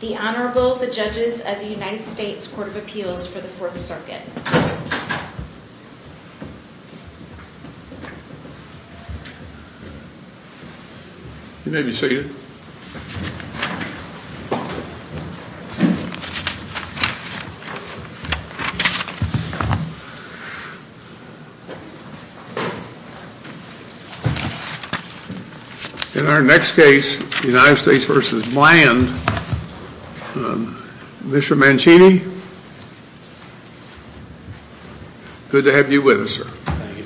The Honorable, the Judges of the United States Court of Appeals for the Fourth Circuit. You may be seated. In our next case, United States v. Bland, Mr. Mancini, good to have you with us, sir. Thank you.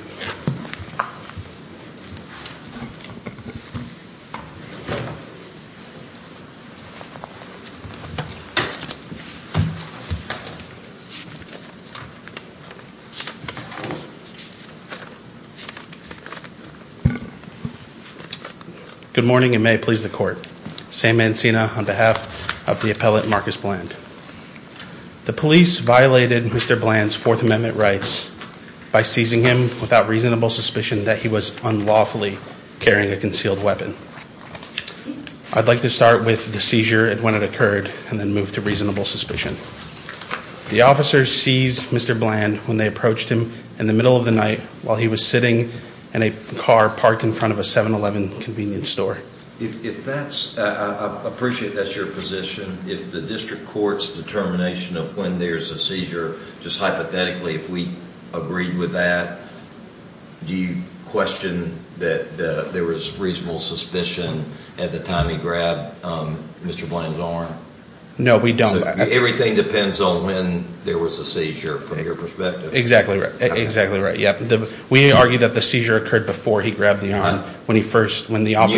Good morning and may it please the Court. Sam Mancini on behalf of the appellate Marcus Bland. The police violated Mr. Bland's Fourth Amendment rights by seizing him without reasonable suspicion that he was unlawfully carrying a concealed weapon. I'd like to start with the seizure and when it occurred and then move to reasonable suspicion. The officer seized Mr. Bland when they approached him in the middle of the night while he was sitting in a car parked in front of a 7-Eleven convenience store. I appreciate that's your position. If the district court's determination of when there's a seizure, just hypothetically, if we agreed with that, do you question that there was reasonable suspicion at the time he grabbed Mr. Bland's arm? No, we don't. Everything depends on when there was a seizure from your perspective. Exactly right. We argue that the seizure occurred before he grabbed the arm. You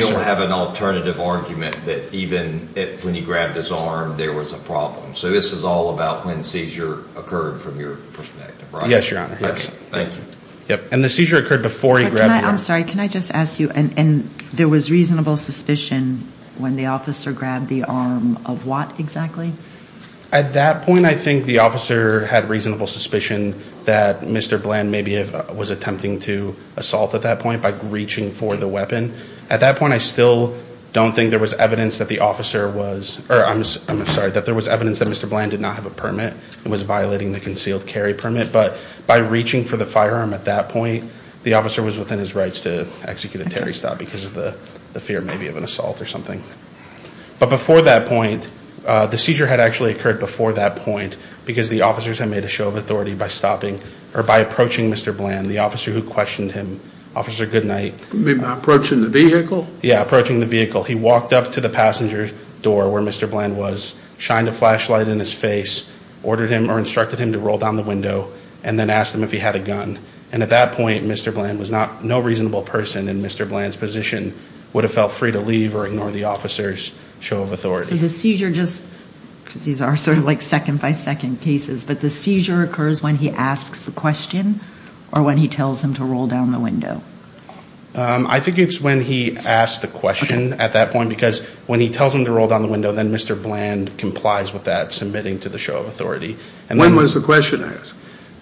don't have an alternative argument that even when he grabbed his arm there was a problem. So this is all about when seizure occurred from your perspective, right? Yes, Your Honor. Thank you. And the seizure occurred before he grabbed the arm. I'm sorry, can I just ask you, and there was reasonable suspicion when the officer grabbed the arm of what exactly? At that point, I think the officer had reasonable suspicion that Mr. Bland maybe was attempting to assault at that point by reaching for the weapon. At that point, I still don't think there was evidence that the officer was, or I'm sorry, that there was evidence that Mr. Bland did not have a permit and was violating the concealed carry permit. But by reaching for the firearm at that point, the officer was within his rights to execute a Terry stop because of the fear maybe of an assault or something. But before that point, the seizure had actually occurred before that point because the officers had made a show of authority by stopping, or by approaching Mr. Bland, the officer who questioned him. Officer, good night. Approaching the vehicle? Yeah, approaching the vehicle. He walked up to the passenger door where Mr. Bland was, shined a flashlight in his face, ordered him or instructed him to roll down the window, and then asked him if he had a gun. And at that point, Mr. Bland was not, no reasonable person in Mr. Bland's position would have felt free to leave or ignore the officer's show of authority. So the seizure just, because these are sort of like second-by-second cases, but the seizure occurs when he asks the question or when he tells him to roll down the window? I think it's when he asks the question at that point because when he tells him to roll down the window, then Mr. Bland complies with that, submitting to the show of authority. When was the question asked?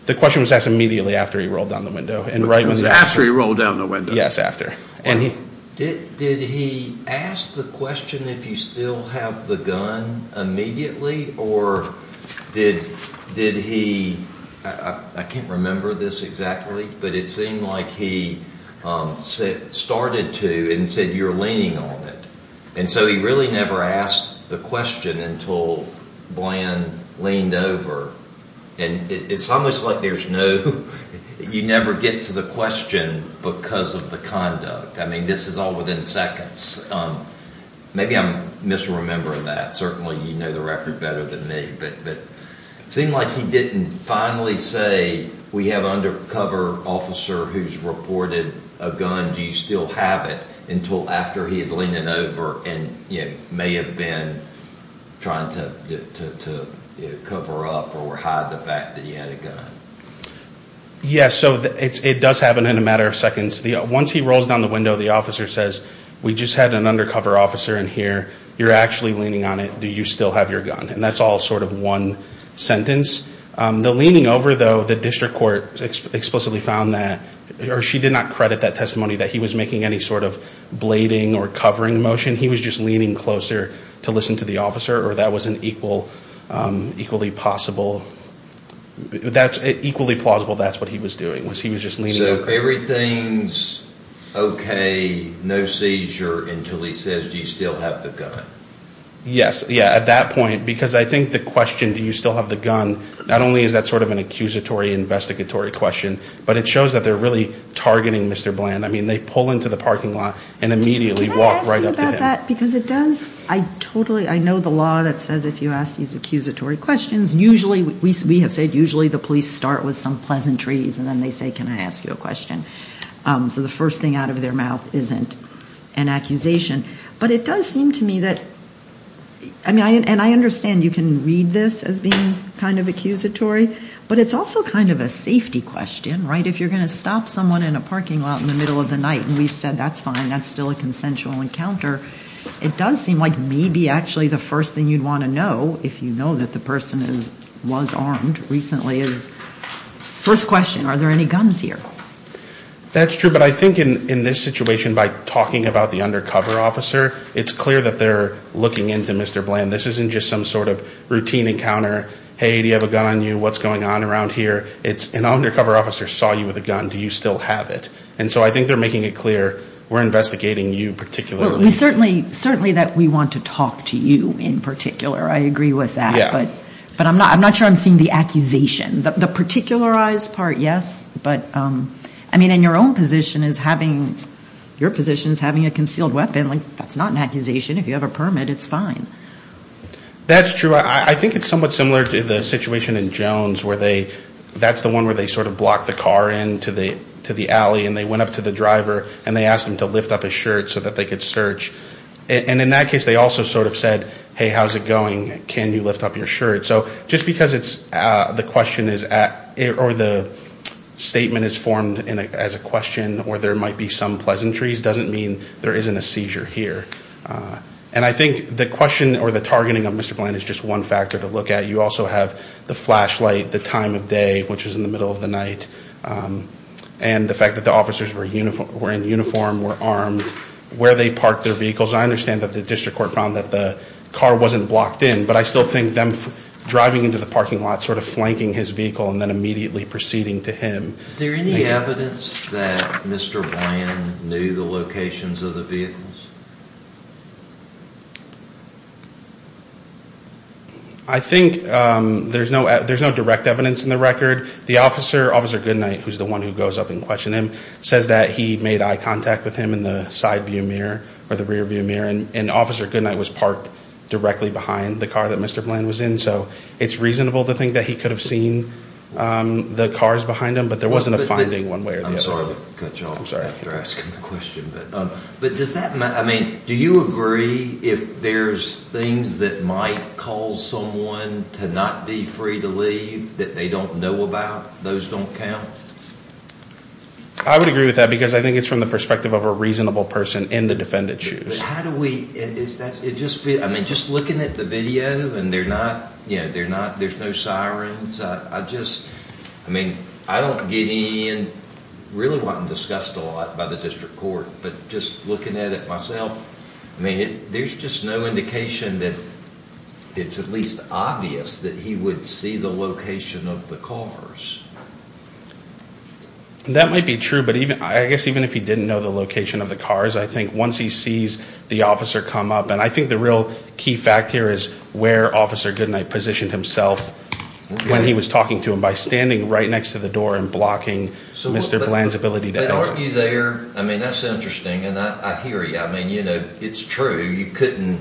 The question was asked immediately after he rolled down the window. After he rolled down the window? Yes, after. Did he ask the question if you still have the gun immediately, or did he, I can't remember this exactly, but it seemed like he started to and said you're leaning on it. And so he really never asked the question until Bland leaned over. And it's almost like there's no, you never get to the question because of the conduct. I mean, this is all within seconds. Maybe I'm misremembering that. Certainly you know the record better than me. But it seemed like he didn't finally say we have an undercover officer who's reported a gun. Do you still have it until after he had leaned it over and may have been trying to cover up or hide the fact that he had a gun? Yes, so it does happen in a matter of seconds. Once he rolls down the window, the officer says we just had an undercover officer in here. You're actually leaning on it. Do you still have your gun? And that's all sort of one sentence. The leaning over, though, the district court explicitly found that, or she did not credit that testimony that he was making any sort of blading or covering motion. He was just leaning closer to listen to the officer, or that was an equally possible, equally plausible that's what he was doing was he was just leaning over. So everything's okay, no seizure, until he says do you still have the gun? Yes, yeah, at that point, because I think the question do you still have the gun, not only is that sort of an accusatory investigatory question, but it shows that they're really targeting Mr. Bland. I mean they pull into the parking lot and immediately walk right up to him. Can I ask you about that? Because it does, I totally, I know the law that says if you ask these accusatory questions, usually we have said usually the police start with some pleasantries, and then they say can I ask you a question. So the first thing out of their mouth isn't an accusation. But it does seem to me that, and I understand you can read this as being kind of accusatory, but it's also kind of a safety question, right? If you're going to stop someone in a parking lot in the middle of the night, and we've said that's fine, that's still a consensual encounter, it does seem like maybe actually the first thing you'd want to know, if you know that the person was armed recently, is first question, are there any guns here? That's true, but I think in this situation by talking about the undercover officer, it's clear that they're looking into Mr. Bland. This isn't just some sort of routine encounter. Hey, do you have a gun on you? What's going on around here? An undercover officer saw you with a gun. Do you still have it? And so I think they're making it clear we're investigating you particularly. Certainly that we want to talk to you in particular. I agree with that. Yeah. But I'm not sure I'm seeing the accusation. The particularized part, yes. But, I mean, in your own position, your position is having a concealed weapon. That's not an accusation. If you have a permit, it's fine. That's true. I think it's somewhat similar to the situation in Jones, where that's the one where they sort of blocked the car into the alley, and they went up to the driver, and they asked him to lift up his shirt so that they could search. And in that case, they also sort of said, hey, how's it going? Can you lift up your shirt? So just because the statement is formed as a question where there might be some pleasantries doesn't mean there isn't a seizure here. And I think the question or the targeting of Mr. Bland is just one factor to look at. You also have the flashlight, the time of day, which was in the middle of the night, and the fact that the officers were in uniform, were armed, where they parked their vehicles. I understand that the district court found that the car wasn't blocked in, but I still think them driving into the parking lot sort of flanking his vehicle and then immediately proceeding to him. Is there any evidence that Mr. Bland knew the locations of the vehicles? I think there's no direct evidence in the record. The officer, Officer Goodnight, who's the one who goes up and questions him, says that he made eye contact with him in the side view mirror or the rear view mirror, and Officer Goodnight was parked directly behind the car that Mr. Bland was in. So it's reasonable to think that he could have seen the cars behind him, but there wasn't a finding one way or the other. I'm sorry to cut you off after asking the question, but does that, I mean, do you agree if there's things that might cause someone to not be free to leave that they don't know about, those don't count? I would agree with that because I think it's from the perspective of a reasonable person in the defendant's shoes. But how do we, I mean, just looking at the video and there's no sirens, I just, I mean, I don't get in, really wasn't discussed a lot by the district court, but just looking at it myself, I mean, there's just no indication that it's at least obvious that he would see the location of the cars. That might be true, but I guess even if he didn't know the location of the cars, I think once he sees the officer come up, and I think the real key fact here is where Officer Goodnight positioned himself when he was talking to him, by standing right next to the door and blocking Mr. Bland's ability to exit. But aren't you there, I mean, that's interesting, and I hear you. I mean, you know, it's true, you couldn't,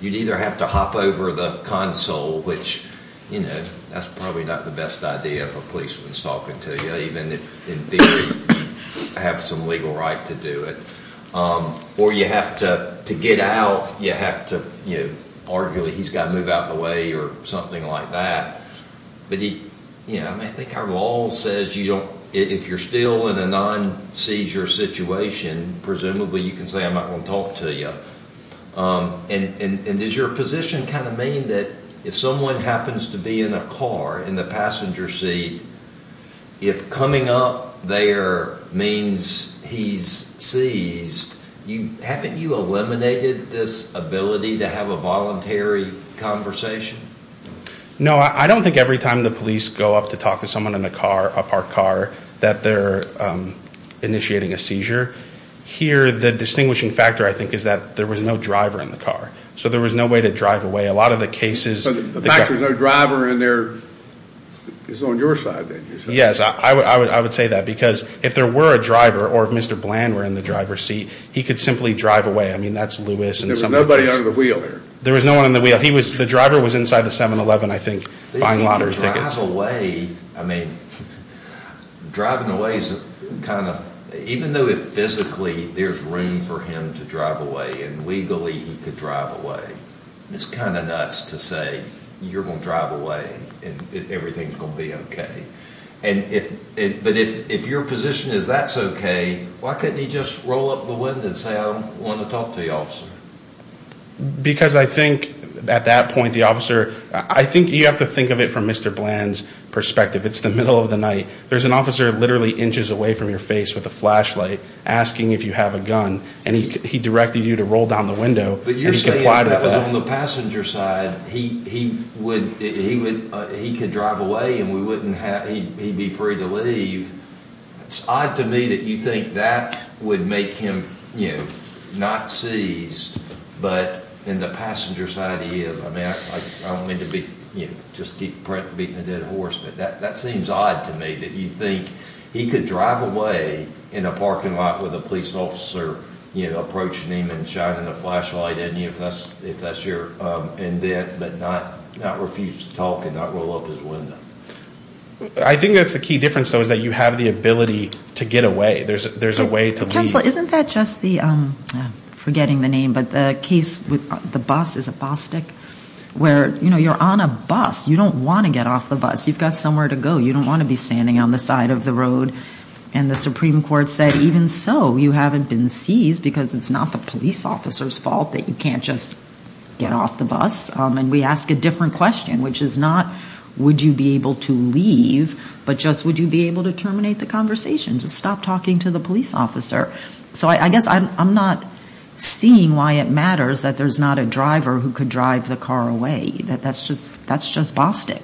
you'd either have to hop over the console, which, you know, that's probably not the best idea if a policeman's talking to you, even if in theory you have some legal right to do it. Or you have to get out, you have to, you know, arguably he's got to move out of the way or something like that. But he, you know, I mean, I think our law says you don't, if you're still in a non-seizure situation, presumably you can say I'm not going to talk to you. And does your position kind of mean that if someone happens to be in a car, in the passenger seat, if coming up there means he's seized, haven't you eliminated this ability to have a voluntary conversation? No, I don't think every time the police go up to talk to someone in a car, a parked car, that they're initiating a seizure. Here, the distinguishing factor, I think, is that there was no driver in the car. So there was no way to drive away. A lot of the cases – So the fact there's no driver in there is on your side, then? Yes, I would say that. Because if there were a driver or if Mr. Bland were in the driver's seat, he could simply drive away. I mean, that's Lewis and – There was nobody under the wheel there. There was no one under the wheel. The driver was inside the 7-Eleven, I think, buying lottery tickets. I mean, driving away is kind of – even though physically there's room for him to drive away, and legally he could drive away, it's kind of nuts to say you're going to drive away and everything's going to be okay. But if your position is that's okay, why couldn't he just roll up the window and say, I want to talk to you, officer? Because I think, at that point, the officer – I think you have to think of it from Mr. Bland's perspective. It's the middle of the night. There's an officer literally inches away from your face with a flashlight asking if you have a gun, and he directed you to roll down the window and he complied with that. But you're saying that on the passenger side, he could drive away and we wouldn't have – he'd be free to leave. It's odd to me that you think that would make him not seized, but in the passenger side, he is. I don't mean to just keep beating a dead horse, but that seems odd to me, that you think he could drive away in a parking lot with a police officer approaching him and shining a flashlight at him, if that's your intent, but not refuse to talk and not roll up his window. I think that's the key difference, though, is that you have the ability to get away. There's a way to leave. Counsel, isn't that just the – I'm forgetting the name, but the case with the bus, is it Bostick, where you're on a bus. You don't want to get off the bus. You've got somewhere to go. You don't want to be standing on the side of the road. And the Supreme Court said even so, you haven't been seized because it's not the police officer's fault that you can't just get off the bus. And we ask a different question, which is not would you be able to leave, but just would you be able to terminate the conversation, to stop talking to the police officer. So I guess I'm not seeing why it matters that there's not a driver who could drive the car away. That's just Bostick.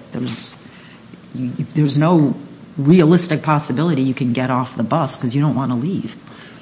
There's no realistic possibility you can get off the bus because you don't want to leave.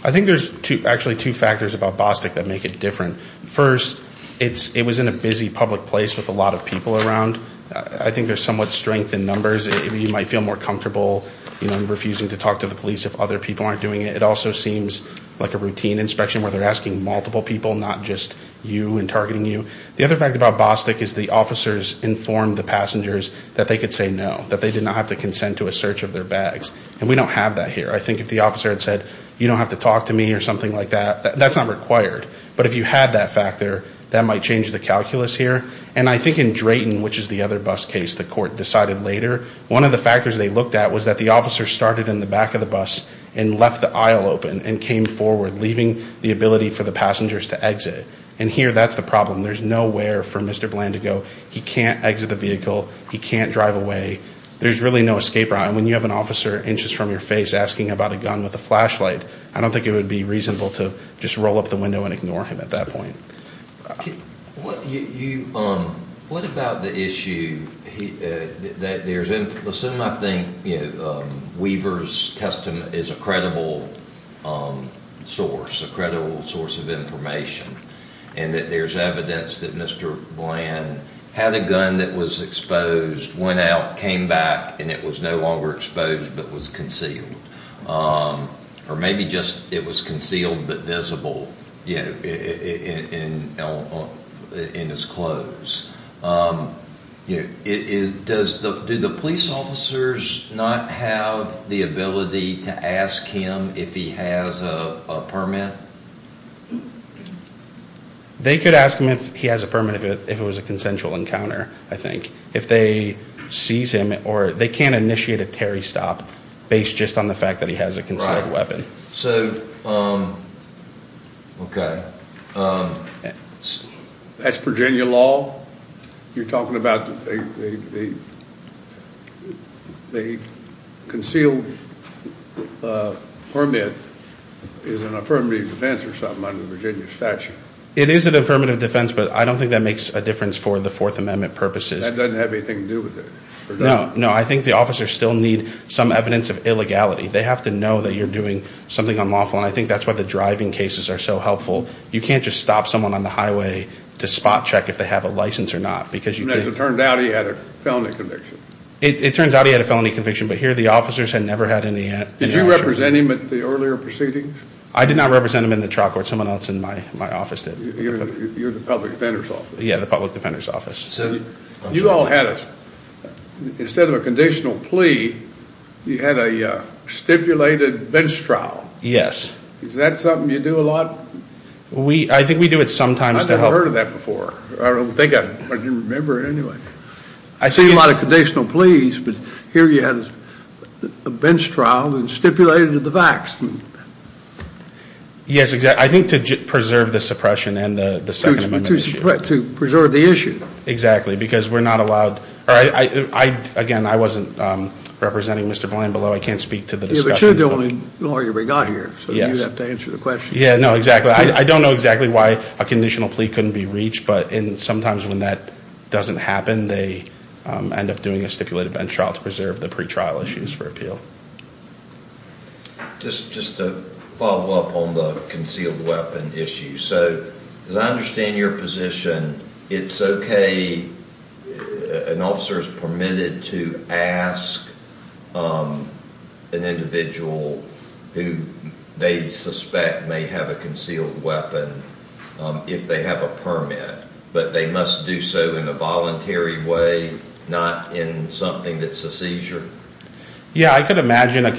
I think there's actually two factors about Bostick that make it different. First, it was in a busy public place with a lot of people around. I think there's somewhat strength in numbers. You might feel more comfortable refusing to talk to the police if other people aren't doing it. It also seems like a routine inspection where they're asking multiple people, not just you and targeting you. The other fact about Bostick is the officers informed the passengers that they could say no, that they did not have to consent to a search of their bags. And we don't have that here. I think if the officer had said, you don't have to talk to me or something like that, that's not required. But if you had that factor, that might change the calculus here. And I think in Drayton, which is the other bus case, the court decided later, one of the factors they looked at was that the officer started in the back of the bus and left the aisle open and came forward, leaving the ability for the passengers to exit. And here, that's the problem. There's nowhere for Mr. Bland to go. He can't exit the vehicle. He can't drive away. There's really no escape route. And when you have an officer inches from your face asking about a gun with a flashlight, I don't think it would be reasonable to just roll up the window and ignore him at that point. What about the issue that there's in the system? I think Weaver's testament is a credible source, a credible source of information, and that there's evidence that Mr. Bland had a gun that was exposed, went out, came back, and it was no longer exposed but was concealed. Or maybe just it was concealed but visible in his clothes. Do the police officers not have the ability to ask him if he has a permit? They could ask him if he has a permit if it was a consensual encounter, I think. They can't initiate a Terry stop based just on the fact that he has a concealed weapon. That's Virginia law? You're talking about a concealed permit is an affirmative defense or something under the Virginia statute? It is an affirmative defense, but I don't think that makes a difference for the Fourth Amendment purposes. That doesn't have anything to do with it? No, I think the officers still need some evidence of illegality. They have to know that you're doing something unlawful, and I think that's why the driving cases are so helpful. You can't just stop someone on the highway to spot check if they have a license or not. As it turned out, he had a felony conviction. It turns out he had a felony conviction, but here the officers had never had any action. Did you represent him at the earlier proceedings? I did not represent him in the trial court. Someone else in my office did. You're the public defender's office? Yeah, the public defender's office. You all had, instead of a conditional plea, you had a stipulated bench trial. Yes. Is that something you do a lot? I think we do it sometimes. I've never heard of that before. I don't think I remember it anyway. I've seen a lot of conditional pleas, but here you had a bench trial and stipulated the facts. Yes, I think to preserve the suppression and the Second Amendment issue. To preserve the issue. Exactly, because we're not allowed. Again, I wasn't representing Mr. Bland below. I can't speak to the discussion. But you're the only lawyer we got here, so you have to answer the question. Yeah, no, exactly. I don't know exactly why a conditional plea couldn't be reached, but sometimes when that doesn't happen, they end up doing a stipulated bench trial to preserve the pretrial issues for appeal. Just to follow up on the concealed weapon issue. As I understand your position, it's okay, an officer is permitted to ask an individual who they suspect may have a concealed weapon if they have a permit, but they must do so in a voluntary way, not in something that's a seizure? Yeah, I could imagine a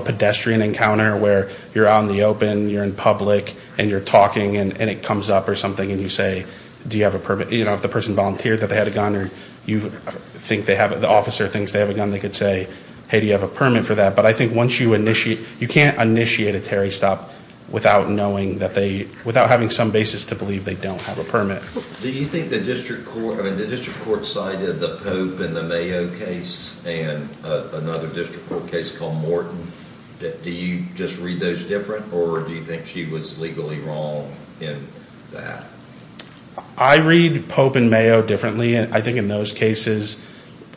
pedestrian encounter where you're out in the open, you're in public, and you're talking, and it comes up or something, and you say, do you have a permit? If the person volunteered that they had a gun, or the officer thinks they have a gun, they could say, hey, do you have a permit for that? But I think once you initiate, you can't initiate a Terry stop without knowing that they, without having some basis to believe they don't have a permit. Do you think the district court, I mean, the district court cited the Pope and the Mayo case and another district court case called Morton. Do you just read those different, or do you think she was legally wrong in that? I read Pope and Mayo differently. I think in those cases,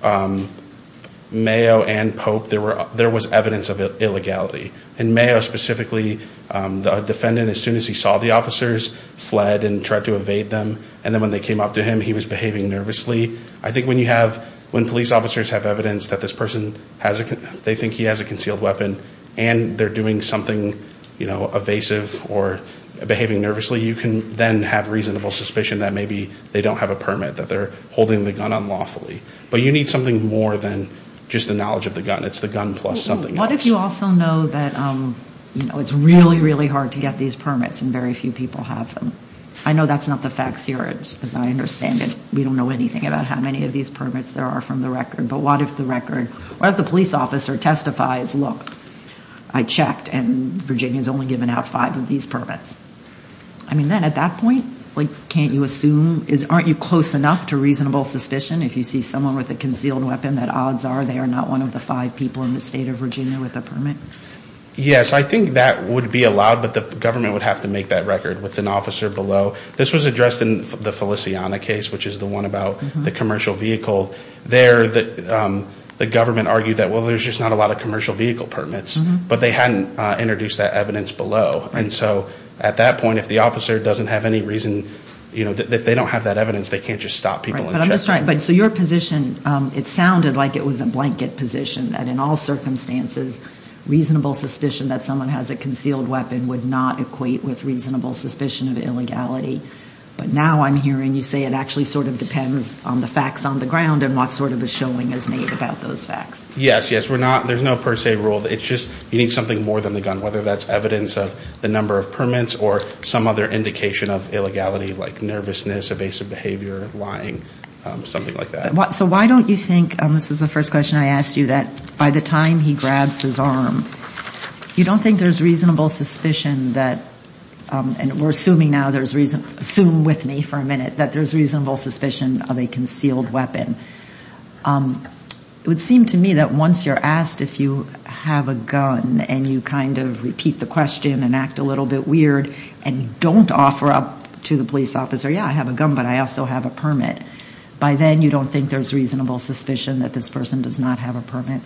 Mayo and Pope, there was evidence of illegality. In Mayo specifically, the defendant, as soon as he saw the officers, fled and tried to evade them. And then when they came up to him, he was behaving nervously. I think when you have, when police officers have evidence that this person has, they think he has a concealed weapon, and they're doing something, you know, evasive or behaving nervously, you can then have reasonable suspicion that maybe they don't have a permit, that they're holding the gun unlawfully. But you need something more than just the knowledge of the gun. It's the gun plus something else. What if you also know that, you know, it's really, really hard to get these permits, and very few people have them? I know that's not the facts here, as I understand it. We don't know anything about how many of these permits there are from the record. But what if the record, what if the police officer testifies, look, I checked, and Virginia's only given out five of these permits? I mean, then at that point, can't you assume, aren't you close enough to reasonable suspicion if you see someone with a concealed weapon that odds are they are not one of the five people in the state of Virginia with a permit? Yes, I think that would be allowed, but the government would have to make that record with an officer below. So this was addressed in the Feliciana case, which is the one about the commercial vehicle. There, the government argued that, well, there's just not a lot of commercial vehicle permits. But they hadn't introduced that evidence below. And so at that point, if the officer doesn't have any reason, you know, if they don't have that evidence, they can't just stop people and check. But I'm just trying, so your position, it sounded like it was a blanket position, that in all circumstances, reasonable suspicion that someone has a concealed weapon would not equate with reasonable suspicion of illegality. But now I'm hearing you say it actually sort of depends on the facts on the ground and what sort of a showing is made about those facts. Yes, yes. We're not, there's no per se rule. It's just you need something more than the gun, whether that's evidence of the number of permits or some other indication of illegality like nervousness, evasive behavior, lying, something like that. So why don't you think, and this was the first question I asked you, that by the time he grabs his arm, you don't think there's reasonable suspicion that, and we're assuming now, assume with me for a minute, that there's reasonable suspicion of a concealed weapon. It would seem to me that once you're asked if you have a gun and you kind of repeat the question and act a little bit weird and don't offer up to the police officer, yeah, I have a gun, but I also have a permit, by then you don't think there's reasonable suspicion that this person does not have a permit.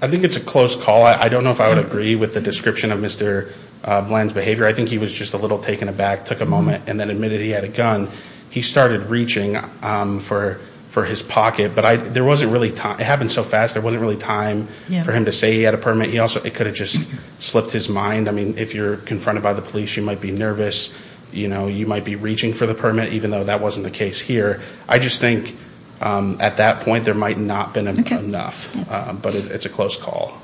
I think it's a close call. I don't know if I would agree with the description of Mr. Bland's behavior. I think he was just a little taken aback, took a moment, and then admitted he had a gun. He started reaching for his pocket, but there wasn't really, it happened so fast, there wasn't really time for him to say he had a permit. It could have just slipped his mind. I mean, if you're confronted by the police, you might be nervous. You might be reaching for the permit, even though that wasn't the case here. I just think at that point there might not have been enough, but it's a close call.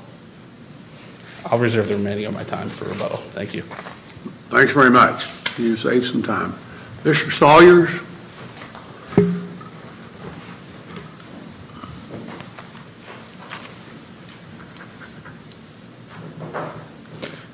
I'll reserve the remaining of my time for a vote. Thank you. Thanks very much. You saved some time. Mr. Sawyers?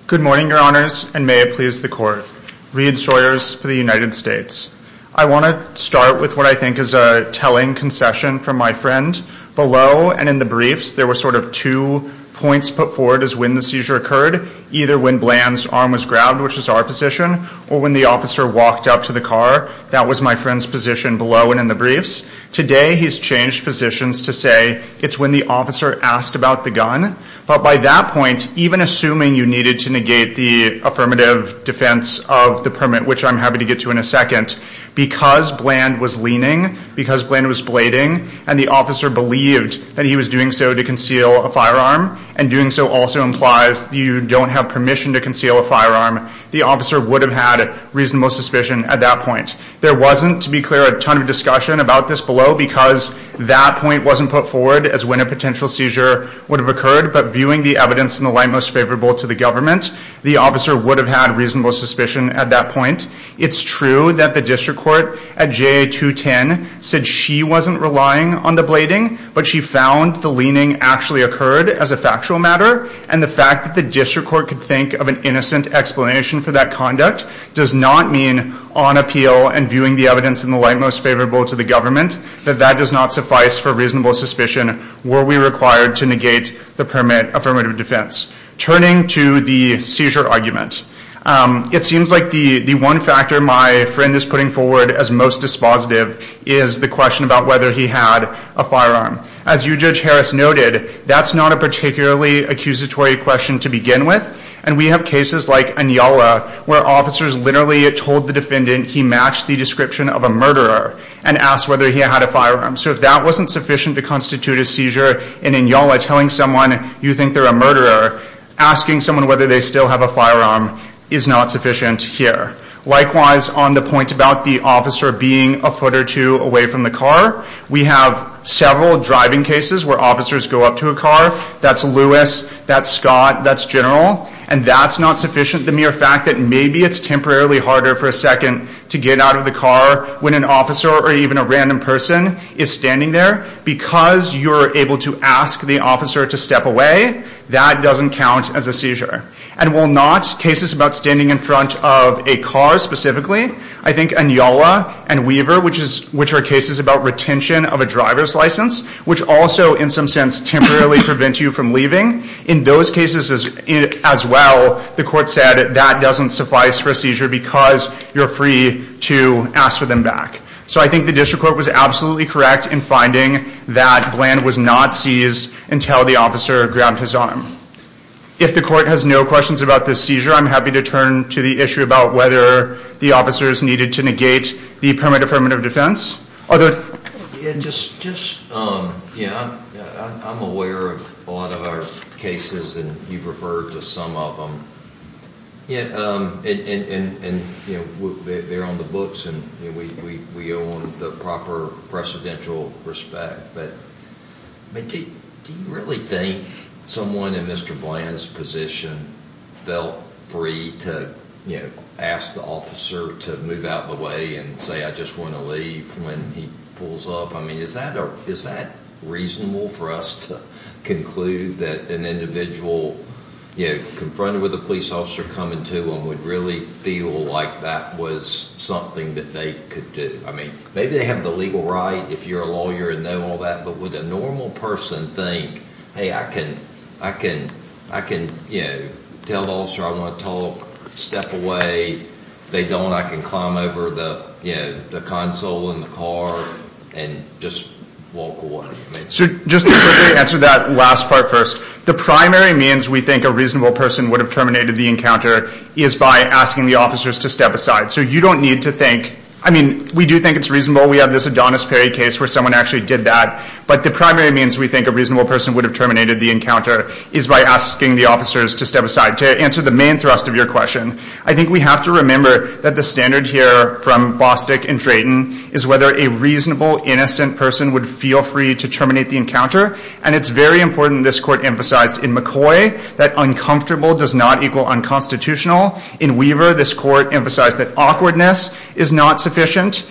Good morning, Your Honors, and may it please the Court. Reid Sawyers for the United States. I want to start with what I think is a telling concession from my friend. Below and in the briefs there were sort of two points put forward as when the seizure occurred, either when Bland's arm was grabbed, which is our position, or when the officer walked up to the car. That was my friend's position below and in the briefs. Today he's changed positions to say it's when the officer asked about the gun. But by that point, even assuming you needed to negate the affirmative defense of the permit, which I'm happy to get to in a second, because Bland was leaning, because Bland was blading, and the officer believed that he was doing so to conceal a firearm, and doing so also implies you don't have permission to conceal a firearm, the officer would have had reasonable suspicion at that point. There wasn't, to be clear, a ton of discussion about this below because that point wasn't put forward as when a potential seizure would have occurred, but viewing the evidence in the light most favorable to the government, the officer would have had reasonable suspicion at that point. It's true that the district court at JA-210 said she wasn't relying on the blading, but she found the leaning actually occurred as a factual matter, and the fact that the district court could think of an innocent explanation for that conduct does not mean on appeal and viewing the evidence in the light most favorable to the government that that does not suffice for reasonable suspicion were we required to negate the affirmative defense. Turning to the seizure argument, it seems like the one factor my friend is putting forward as most dispositive is the question about whether he had a firearm. As you, Judge Harris, noted, that's not a particularly accusatory question to begin with, and we have cases like Inyala where officers literally told the defendant he matched the description of a murderer and asked whether he had a firearm. So if that wasn't sufficient to constitute a seizure in Inyala, telling someone you think they're a murderer, asking someone whether they still have a firearm is not sufficient here. Likewise, on the point about the officer being a foot or two away from the car, we have several driving cases where officers go up to a car, that's Lewis, that's Scott, that's General, and that's not sufficient. The mere fact that maybe it's temporarily harder for a second to get out of the car when an officer or even a random person is standing there because you're able to ask the officer to step away, that doesn't count as a seizure. And while not, cases about standing in front of a car specifically, I think Inyala and Weaver, which are cases about retention of a driver's license, which also in some sense temporarily prevent you from leaving, in those cases as well, the court said that doesn't suffice for a seizure because you're free to ask for them back. So I think the district court was absolutely correct in finding that Bland was not seized until the officer grabbed his arm. If the court has no questions about this seizure, I'm happy to turn to the issue about whether the officers needed to negate the permanent affirmative defense. I'm aware of a lot of our cases, and you've referred to some of them, and they're on the books, and we own the proper precedential respect, but do you really think someone in Mr. Bland's position felt free to ask the officer to move out of the way and say I just want to leave when he pulls up? I mean, is that reasonable for us to conclude that an individual confronted with a police officer coming to them would really feel like that was something that they could do? I mean, maybe they have the legal right if you're a lawyer and know all that, but would a normal person think, hey, I can tell the officer I want to talk, step away, if they don't I can climb over the console in the car and just walk away? Just to quickly answer that last part first, the primary means we think a reasonable person would have terminated the encounter is by asking the officers to step aside. So you don't need to think, I mean, we do think it's reasonable, we have this Adonis Perry case where someone actually did that, but the primary means we think a reasonable person would have terminated the encounter is by asking the officers to step aside, to answer the main thrust of your question. I think we have to remember that the standard here from Bostick and Drayton is whether a reasonable, innocent person would feel free to terminate the encounter, and it's very important this Court emphasized in McCoy that uncomfortable does not equal unconstitutional. In Weaver, this Court emphasized that awkwardness is not sufficient.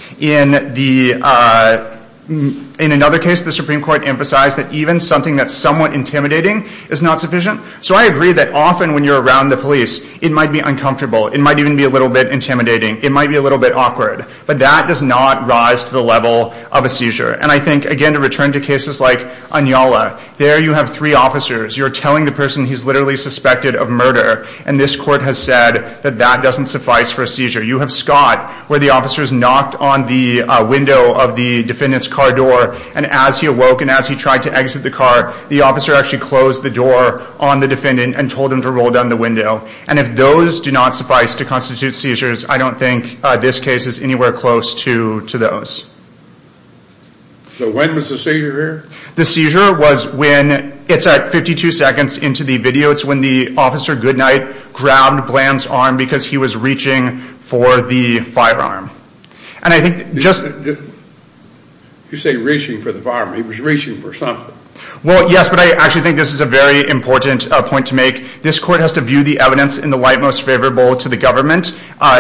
In another case, the Supreme Court emphasized that even something that's somewhat intimidating is not sufficient. So I agree that often when you're around the police, it might be uncomfortable, it might even be a little bit intimidating, it might be a little bit awkward, but that does not rise to the level of a seizure. And I think, again, to return to cases like Anyala, there you have three officers, you're telling the person he's literally suspected of murder, and this Court has said that that doesn't suffice for a seizure. You have Scott, where the officer is knocked on the window of the defendant's car door, and as he awoke and as he tried to exit the car, the officer actually closed the door on the defendant and told him to roll down the window. And if those do not suffice to constitute seizures, I don't think this case is anywhere close to those. So when was the seizure here? The seizure was when, it's at 52 seconds into the video, it's when the officer, Goodnight, grabbed Bland's arm because he was reaching for the firearm. And I think just... You say reaching for the firearm, he was reaching for something. Well, yes, but I actually think this is a very important point to make. This Court has to view the evidence in the light most favorable to the government.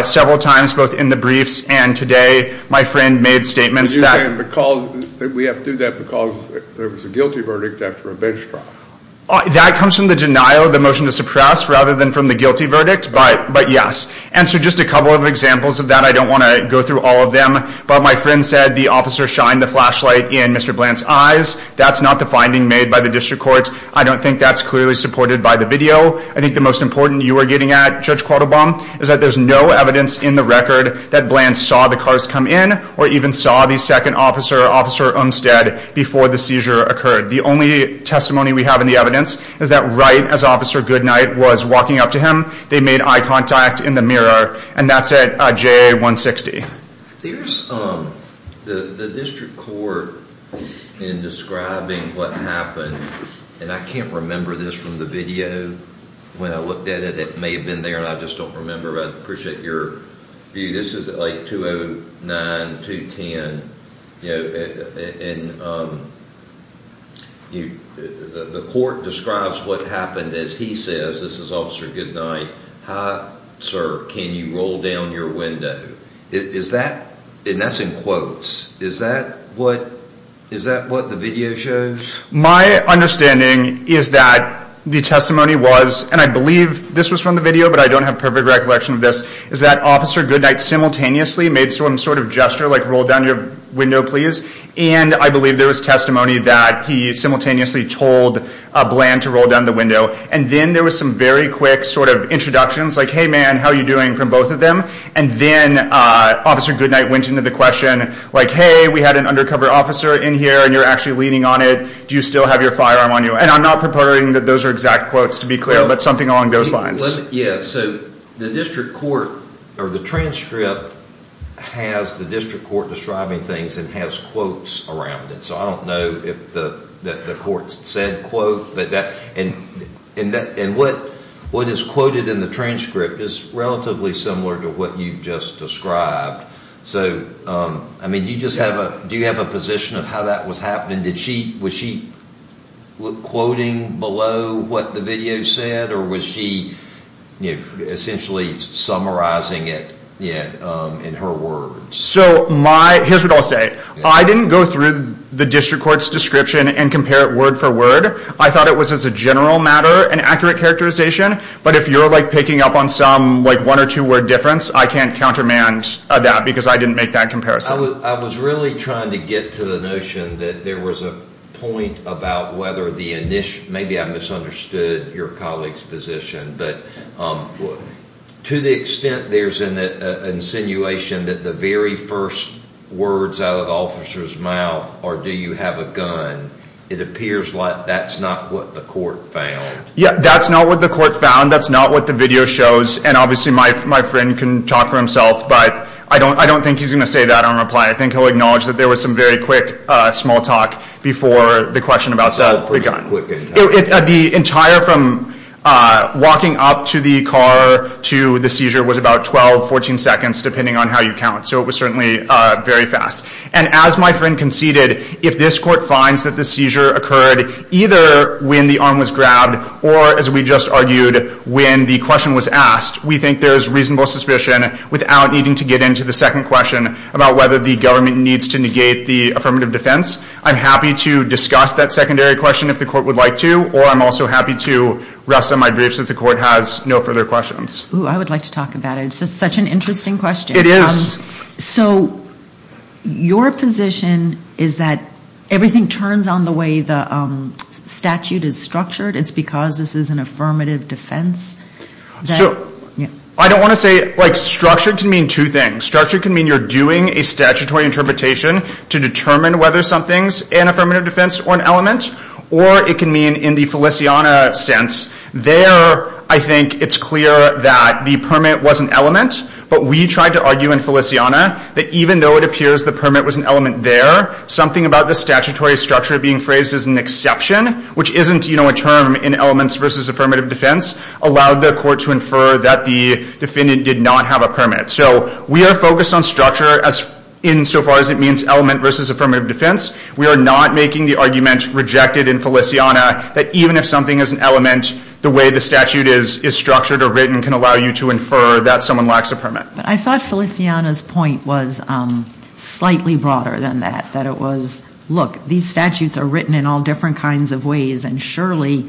Several times, both in the briefs and today, my friend made statements that... But you're saying we have to do that because there was a guilty verdict after a bench trial. That comes from the denial of the motion to suppress rather than from the guilty verdict, but yes. And so just a couple of examples of that, I don't want to go through all of them. But my friend said the officer shined the flashlight in Mr. Bland's eyes. That's not the finding made by the District Court. I don't think that's clearly supported by the video. I think the most important you are getting at, Judge Quattlebaum, is that there's no evidence in the record that Bland saw the cars come in or even saw the second officer, Officer Umstead, before the seizure occurred. The only testimony we have in the evidence is that right as Officer Goodnight was walking up to him, they made eye contact in the mirror, and that's at JA-160. There's the District Court in describing what happened, and I can't remember this from the video when I looked at it. It may have been there, and I just don't remember, but I appreciate your view. This is at like 209-210, and the court describes what happened as he says, this is Officer Goodnight, Sir, can you roll down your window? And that's in quotes. Is that what the video shows? My understanding is that the testimony was, and I believe this was from the video, but I don't have perfect recollection of this, is that Officer Goodnight simultaneously made some sort of gesture, like roll down your window, please, and I believe there was testimony that he simultaneously told Bland to roll down the window, and then there was some very quick sort of introductions, like, hey, man, how are you doing, from both of them, and then Officer Goodnight went into the question, like, hey, we had an undercover officer in here, and you're actually leaning on it. Do you still have your firearm on you? And I'm not preparing that those are exact quotes, to be clear, but something along those lines. Yeah, so the district court, or the transcript, has the district court describing things and has quotes around it, so I don't know if the court said quote, and what is quoted in the transcript is relatively similar to what you've just described. So, I mean, do you have a position of how that was happening? Was she quoting below what the video said, or was she essentially summarizing it in her words? So here's what I'll say. I didn't go through the district court's description and compare it word for word. I thought it was, as a general matter, an accurate characterization, but if you're, like, picking up on some, like, one or two-word difference, I can't countermand that because I didn't make that comparison. I was really trying to get to the notion that there was a point about whether the initial, maybe I misunderstood your colleague's position, but to the extent there's an insinuation that the very first words out of the officer's mouth are do you have a gun, it appears like that's not what the court found. Yeah, that's not what the court found. That's not what the video shows, and obviously my friend can talk for himself, but I don't think he's going to say that on reply. I think he'll acknowledge that there was some very quick small talk before the question about the gun. The entire from walking up to the car to the seizure was about 12, 14 seconds, depending on how you count, so it was certainly very fast. And as my friend conceded, if this court finds that the seizure occurred either when the arm was grabbed or, as we just argued, when the question was asked, we think there is reasonable suspicion without needing to get into the second question about whether the government needs to negate the affirmative defense. I'm happy to discuss that secondary question if the court would like to, or I'm also happy to rest on my grief since the court has no further questions. Oh, I would like to talk about it. It's just such an interesting question. It is. So your position is that everything turns on the way the statute is structured. It's because this is an affirmative defense. So I don't want to say like structured can mean two things. Structured can mean you're doing a statutory interpretation to determine whether something's an affirmative defense or an element, or it can mean in the Feliciana sense, there I think it's clear that the permit was an element, but we tried to argue in Feliciana that even though it appears the permit was an element there, something about the statutory structure being phrased as an exception, which isn't, you know, a term in elements versus affirmative defense, allowed the court to infer that the defendant did not have a permit. So we are focused on structure insofar as it means element versus affirmative defense. We are not making the argument rejected in Feliciana that even if something is an element, the way the statute is structured or written can allow you to infer that someone lacks a permit. But I thought Feliciana's point was slightly broader than that, that it was, look, these statutes are written in all different kinds of ways, and surely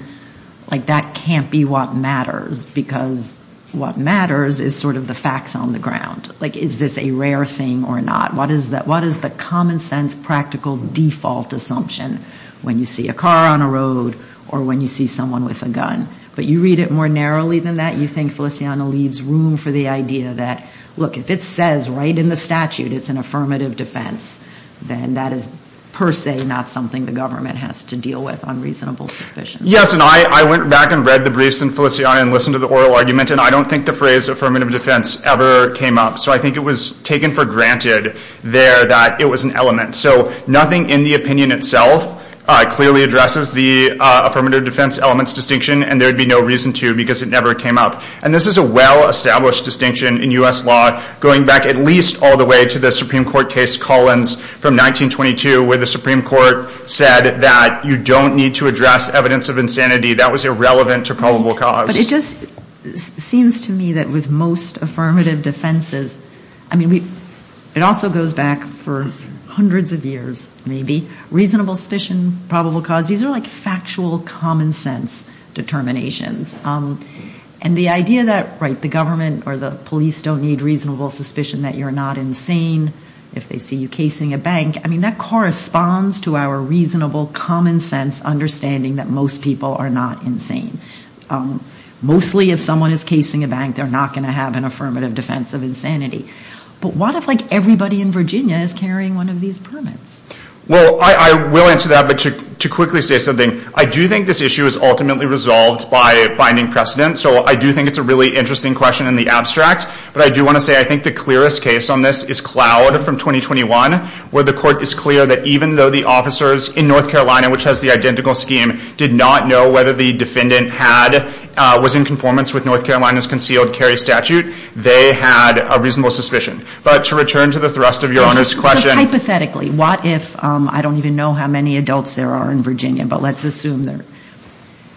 like that can't be what matters because what matters is sort of the facts on the ground. Like is this a rare thing or not? What is the common sense practical default assumption when you see a car on a road or when you see someone with a gun? But you read it more narrowly than that, you think Feliciana leaves room for the idea that, look, if it says right in the statute it's an affirmative defense, then that is per se not something the government has to deal with on reasonable suspicion. Yes, and I went back and read the briefs in Feliciana and listened to the oral argument, and I don't think the phrase affirmative defense ever came up. So I think it was taken for granted there that it was an element. So nothing in the opinion itself clearly addresses the affirmative defense elements distinction, and there would be no reason to because it never came up. And this is a well-established distinction in U.S. law, going back at least all the way to the Supreme Court case Collins from 1922, where the Supreme Court said that you don't need to address evidence of insanity. That was irrelevant to probable cause. But it just seems to me that with most affirmative defenses, I mean it also goes back for hundreds of years maybe, reasonable suspicion, probable cause, these are like factual common sense determinations. And the idea that, right, the government or the police don't need reasonable suspicion that you're not insane, if they see you casing a bank, I mean that corresponds to our reasonable common sense understanding that most people are not insane. Mostly if someone is casing a bank, they're not going to have an affirmative defense of insanity. But what if like everybody in Virginia is carrying one of these permits? Well, I will answer that, but to quickly say something, I do think this issue is ultimately resolved by finding precedent. So I do think it's a really interesting question in the abstract. But I do want to say I think the clearest case on this is Cloud from 2021, where the court is clear that even though the officers in North Carolina, which has the identical scheme, did not know whether the defendant had, was in conformance with North Carolina's concealed carry statute, they had a reasonable suspicion. But to return to the thrust of Your Honor's question. Hypothetically, what if, I don't even know how many adults there are in Virginia, but let's assume,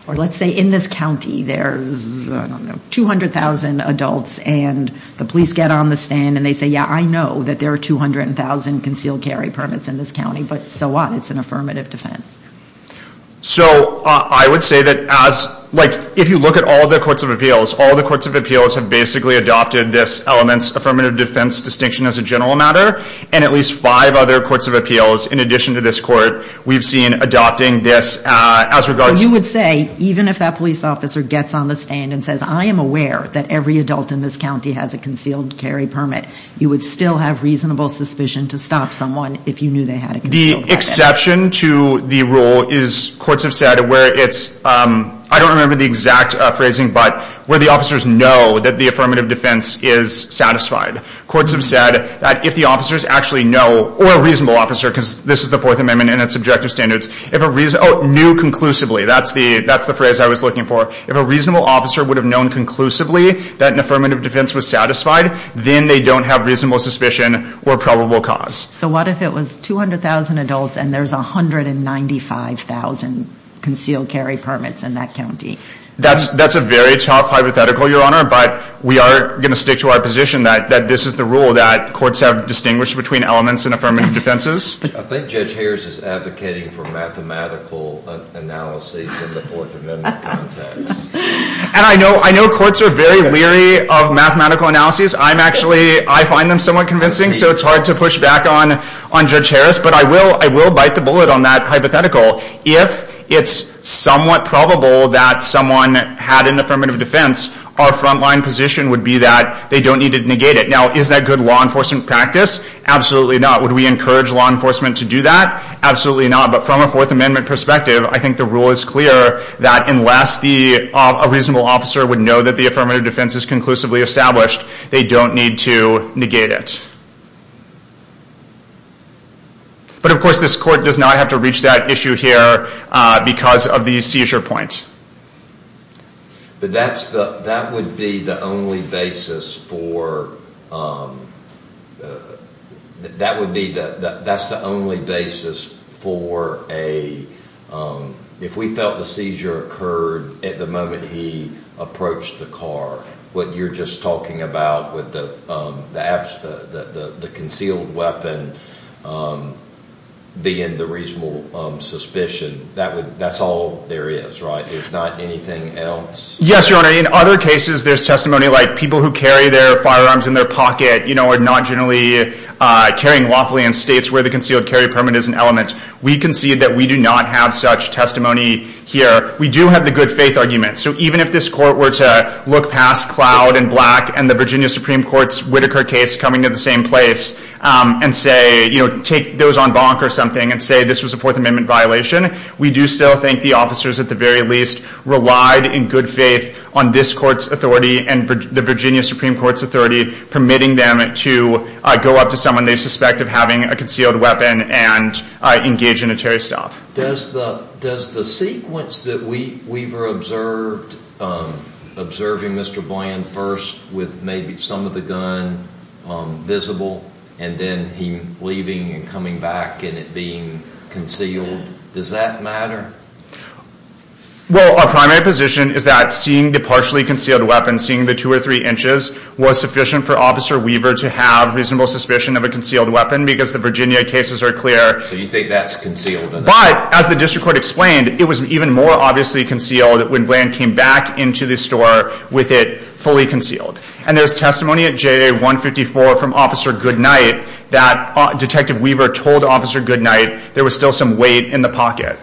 or let's say in this county there's, I don't know, 200,000 adults and the police get on the stand and they say, yeah, I know that there are 200,000 concealed carry permits in this county, but so what? It's an affirmative defense. So I would say that as, like, if you look at all the courts of appeals, all the courts of appeals have basically adopted this elements affirmative defense distinction as a general matter, and at least five other courts of appeals, in addition to this court, we've seen adopting this as regards to. So you would say even if that police officer gets on the stand and says, I am aware that every adult in this county has a concealed carry permit, you would still have reasonable suspicion to stop someone if you knew they had a concealed permit? The exception to the rule is, courts have said, where it's, I don't remember the exact phrasing, but where the officers know that the affirmative defense is satisfied. Courts have said that if the officers actually know, or a reasonable officer, because this is the Fourth Amendment and it's objective standards, if a reason, oh, knew conclusively, that's the phrase I was looking for, if a reasonable officer would have known conclusively that an affirmative defense was satisfied, then they don't have reasonable suspicion or probable cause. So what if it was 200,000 adults and there's 195,000 concealed carry permits in that county? That's a very tough hypothetical, Your Honor, but we are going to stick to our position that this is the rule that courts have distinguished between elements in affirmative defenses. I think Judge Harris is advocating for mathematical analyses in the Fourth Amendment context. And I know courts are very leery of mathematical analyses. I'm actually, I find them somewhat convincing, so it's hard to push back on Judge Harris, but I will bite the bullet on that hypothetical. If it's somewhat probable that someone had an affirmative defense, our front-line position would be that they don't need to negate it. Now, is that good law enforcement practice? Absolutely not. Would we encourage law enforcement to do that? Absolutely not. But from a Fourth Amendment perspective, I think the rule is clear that unless a reasonable officer would know that the affirmative defense is conclusively established, they don't need to negate it. But, of course, this Court does not have to reach that issue here because of the seizure point. But that would be the only basis for a, if we felt the seizure occurred at the moment he approached the car, what you're just talking about with the concealed weapon being the reasonable suspicion, that's all there is, right, if not anything else? Yes, Your Honor. In other cases, there's testimony like people who carry their firearms in their pocket are not generally carrying lawfully in states where the concealed carry permit is an element. We concede that we do not have such testimony here. We do have the good faith argument. So even if this Court were to look past Cloud and Black and the Virginia Supreme Court's Whitaker case coming to the same place and say, you know, take those on bonk or something and say this was a Fourth Amendment violation, we do still think the officers, at the very least, relied in good faith on this Court's authority and the Virginia Supreme Court's authority permitting them to go up to someone they suspect of having a concealed weapon and engage in a tear stop. Does the sequence that Weaver observed, observing Mr. Bland first with maybe some of the gun visible and then him leaving and coming back and it being concealed, does that matter? Well, our primary position is that seeing the partially concealed weapon, seeing the two or three inches, was sufficient for Officer Weaver to have reasonable suspicion of a concealed weapon because the Virginia cases are clear. So you think that's concealed enough? But, as the District Court explained, it was even more obviously concealed when Bland came back into the store with it fully concealed. And there's testimony at JA-154 from Officer Goodnight that Detective Weaver told Officer Goodnight there was still some weight in the pocket.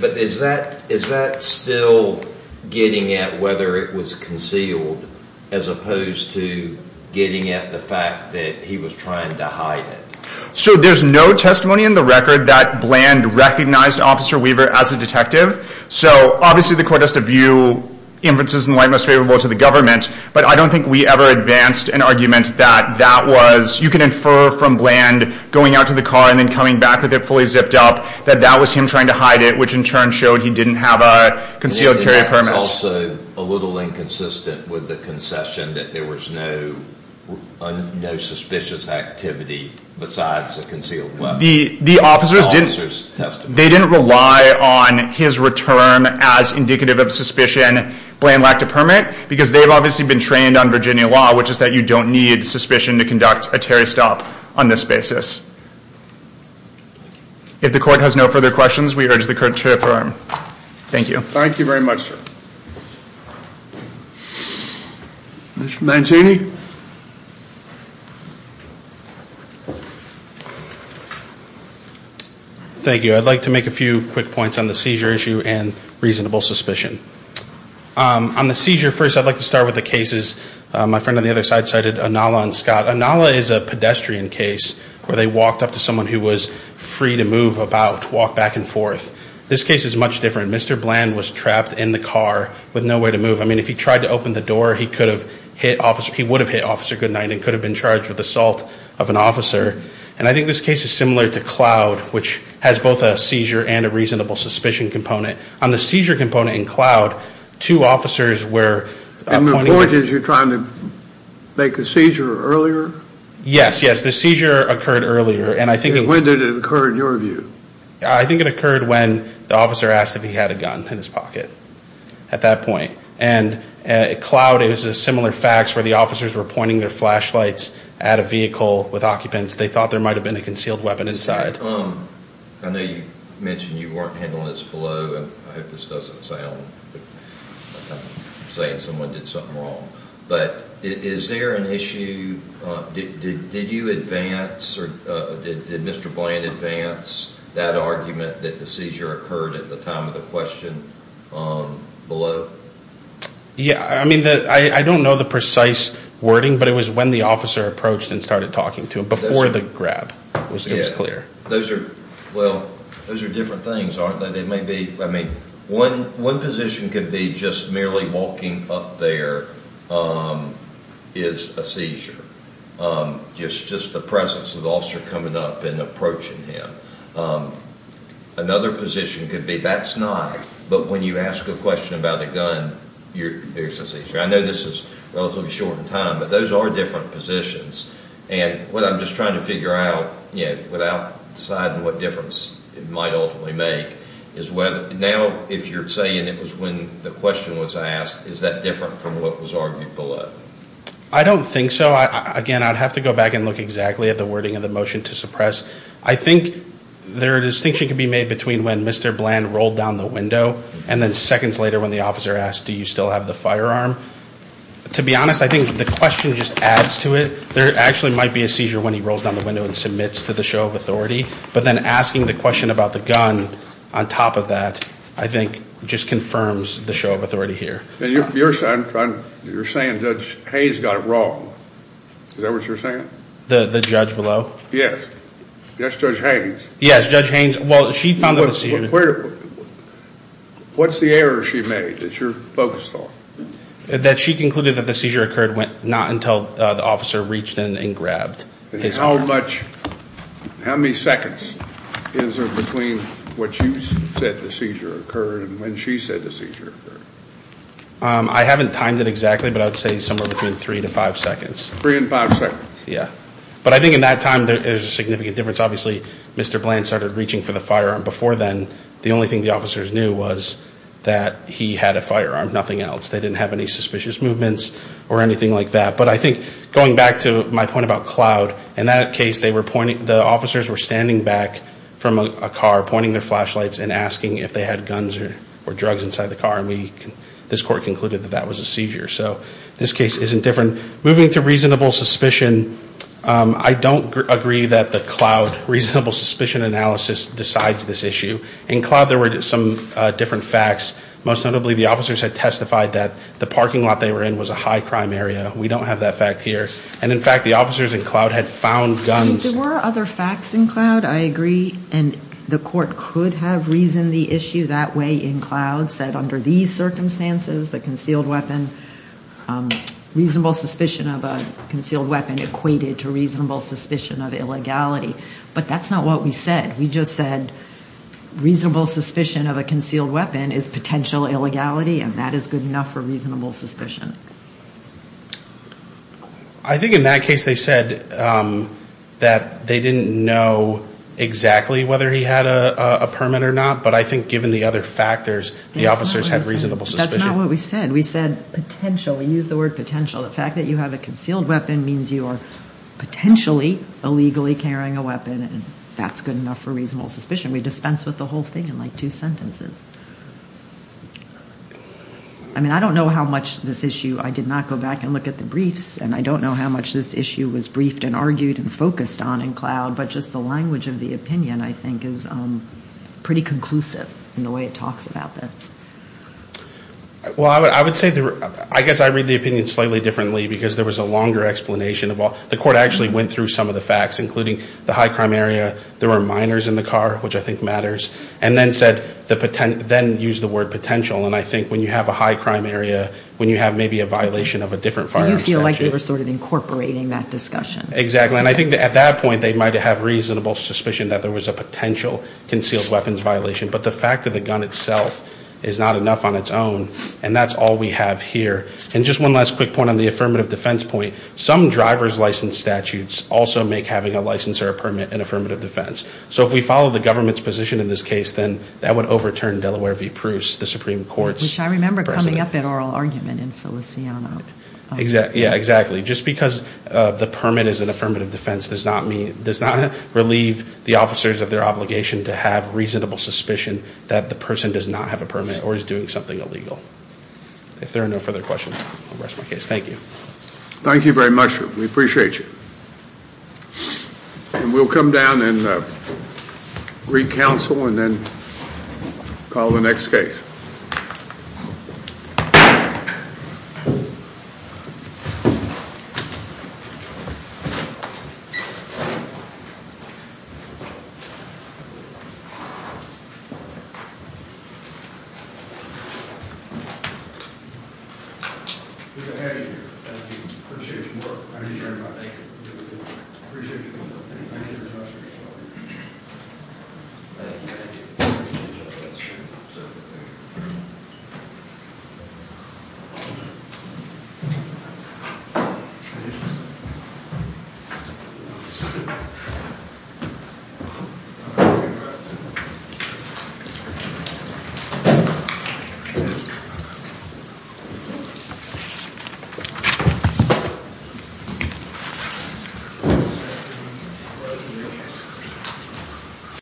But is that still getting at whether it was concealed as opposed to getting at the fact that he was trying to hide it? So there's no testimony in the record that Bland recognized Officer Weaver as a detective. So obviously the court has to view inferences in the light most favorable to the government. But I don't think we ever advanced an argument that that was, you can infer from Bland going out to the car and then coming back with it fully zipped up, that that was him trying to hide it, which in turn showed he didn't have a concealed carry permit. It's also a little inconsistent with the concession that there was no suspicious activity besides a concealed weapon. The officers didn't rely on his return as indicative of suspicion, Bland lacked a permit, because they've obviously been trained on Virginia law, which is that you don't need suspicion to conduct a Terry stop on this basis. If the court has no further questions, we urge the court to affirm. Thank you. Thank you very much, sir. Mr. Mancini. Thank you. I'd like to make a few quick points on the seizure issue and reasonable suspicion. On the seizure, first I'd like to start with the cases my friend on the other side cited, Inala and Scott. Inala is a pedestrian case where they walked up to someone who was free to move about, walk back and forth. This case is much different. Mr. Bland was trapped in the car with no way to move. I mean, if he tried to open the door, he could have hit officer, he would have hit officer goodnight and could have been charged with assault of an officer. And I think this case is similar to Cloud, which has both a seizure and a reasonable suspicion component. On the seizure component in Cloud, two officers were pointing out. And the point is you're trying to make the seizure earlier? Yes, yes. The seizure occurred earlier, and I think it. When did it occur in your view? I think it occurred when the officer asked if he had a gun in his pocket at that point. And at Cloud, it was similar facts where the officers were pointing their flashlights at a vehicle with occupants. They thought there might have been a concealed weapon inside. I know you mentioned you weren't handling this below. I hope this doesn't sound like I'm saying someone did something wrong. But is there an issue? Did you advance or did Mr. Bland advance that argument that the seizure occurred at the time of the question below? Yeah. I mean, I don't know the precise wording, but it was when the officer approached and started talking to him, before the grab. It was clear. Those are, well, those are different things, aren't they? One position could be just merely walking up there is a seizure, just the presence of the officer coming up and approaching him. Another position could be that's not, but when you ask a question about a gun, there's a seizure. I know this is relatively short in time, but those are different positions. And what I'm just trying to figure out, without deciding what difference it might ultimately make, is now if you're saying it was when the question was asked, is that different from what was argued below? I don't think so. Again, I'd have to go back and look exactly at the wording of the motion to suppress. I think there is a distinction can be made between when Mr. Bland rolled down the window and then seconds later when the officer asked, do you still have the firearm? To be honest, I think the question just adds to it. There actually might be a seizure when he rolls down the window and submits to the show of authority, but then asking the question about the gun on top of that, I think, just confirms the show of authority here. You're saying Judge Haynes got it wrong. Is that what you're saying? The judge below? Yes. Yes, Judge Haynes. Yes, Judge Haynes. Well, she found that the seizure... What's the error she made that you're focused on? That she concluded that the seizure occurred not until the officer reached in and grabbed his firearm. How many seconds is there between what you said the seizure occurred and when she said the seizure occurred? I haven't timed it exactly, but I would say somewhere between three to five seconds. Three and five seconds. Yes. But I think in that time there is a significant difference. Obviously, Mr. Bland started reaching for the firearm before then. The only thing the officers knew was that he had a firearm, nothing else. They didn't have any suspicious movements or anything like that. But I think going back to my point about Cloud, in that case the officers were standing back from a car, pointing their flashlights and asking if they had guns or drugs inside the car, and this court concluded that that was a seizure. So this case isn't different. Moving to reasonable suspicion, I don't agree that the Cloud reasonable suspicion analysis decides this issue. In Cloud there were some different facts. Most notably, the officers had testified that the parking lot they were in was a high crime area. We don't have that fact here. And, in fact, the officers in Cloud had found guns. There were other facts in Cloud, I agree, and the court could have reasoned the issue that way in Cloud, said under these circumstances the concealed weapon, reasonable suspicion of a concealed weapon, equated to reasonable suspicion of illegality. But that's not what we said. We just said reasonable suspicion of a concealed weapon is potential illegality, and that is good enough for reasonable suspicion. I think in that case they said that they didn't know exactly whether he had a permit or not, but I think given the other factors the officers had reasonable suspicion. That's not what we said. We said potential. We used the word potential. The fact that you have a concealed weapon means you are potentially illegally carrying a weapon, and that's good enough for reasonable suspicion. We dispensed with the whole thing in like two sentences. I mean, I don't know how much this issue, I did not go back and look at the briefs, and I don't know how much this issue was briefed and argued and focused on in Cloud, but just the language of the opinion, I think, is pretty conclusive in the way it talks about this. Well, I would say, I guess I read the opinion slightly differently because there was a longer explanation. The court actually went through some of the facts, including the high crime area, there were minors in the car, which I think matters, and then said, then used the word potential, and I think when you have a high crime area, when you have maybe a violation of a different firearms statute. So you feel like they were sort of incorporating that discussion. Exactly, and I think at that point they might have reasonable suspicion that there was a potential concealed weapons violation, but the fact that the gun itself is not enough on its own, and that's all we have here. And just one last quick point on the affirmative defense point. Some driver's license statutes also make having a license or a permit an affirmative defense. So if we follow the government's position in this case, then that would overturn Delaware v. Pruce, the Supreme Court's precedent. Which I remember coming up in oral argument in Feliciano. Yeah, exactly. Just because the permit is an affirmative defense does not relieve the officers of their obligation to have reasonable suspicion that the person does not have a permit or is doing something illegal. If there are no further questions, I'll rest my case. Thank you. Thank you very much. We appreciate you. And we'll come down and re-counsel and then call the next case. Thank you. Appreciate your work. I appreciate everybody making it a little bit easier. Appreciate you doing something. Thank you. Thank you. Thank you. Thank you.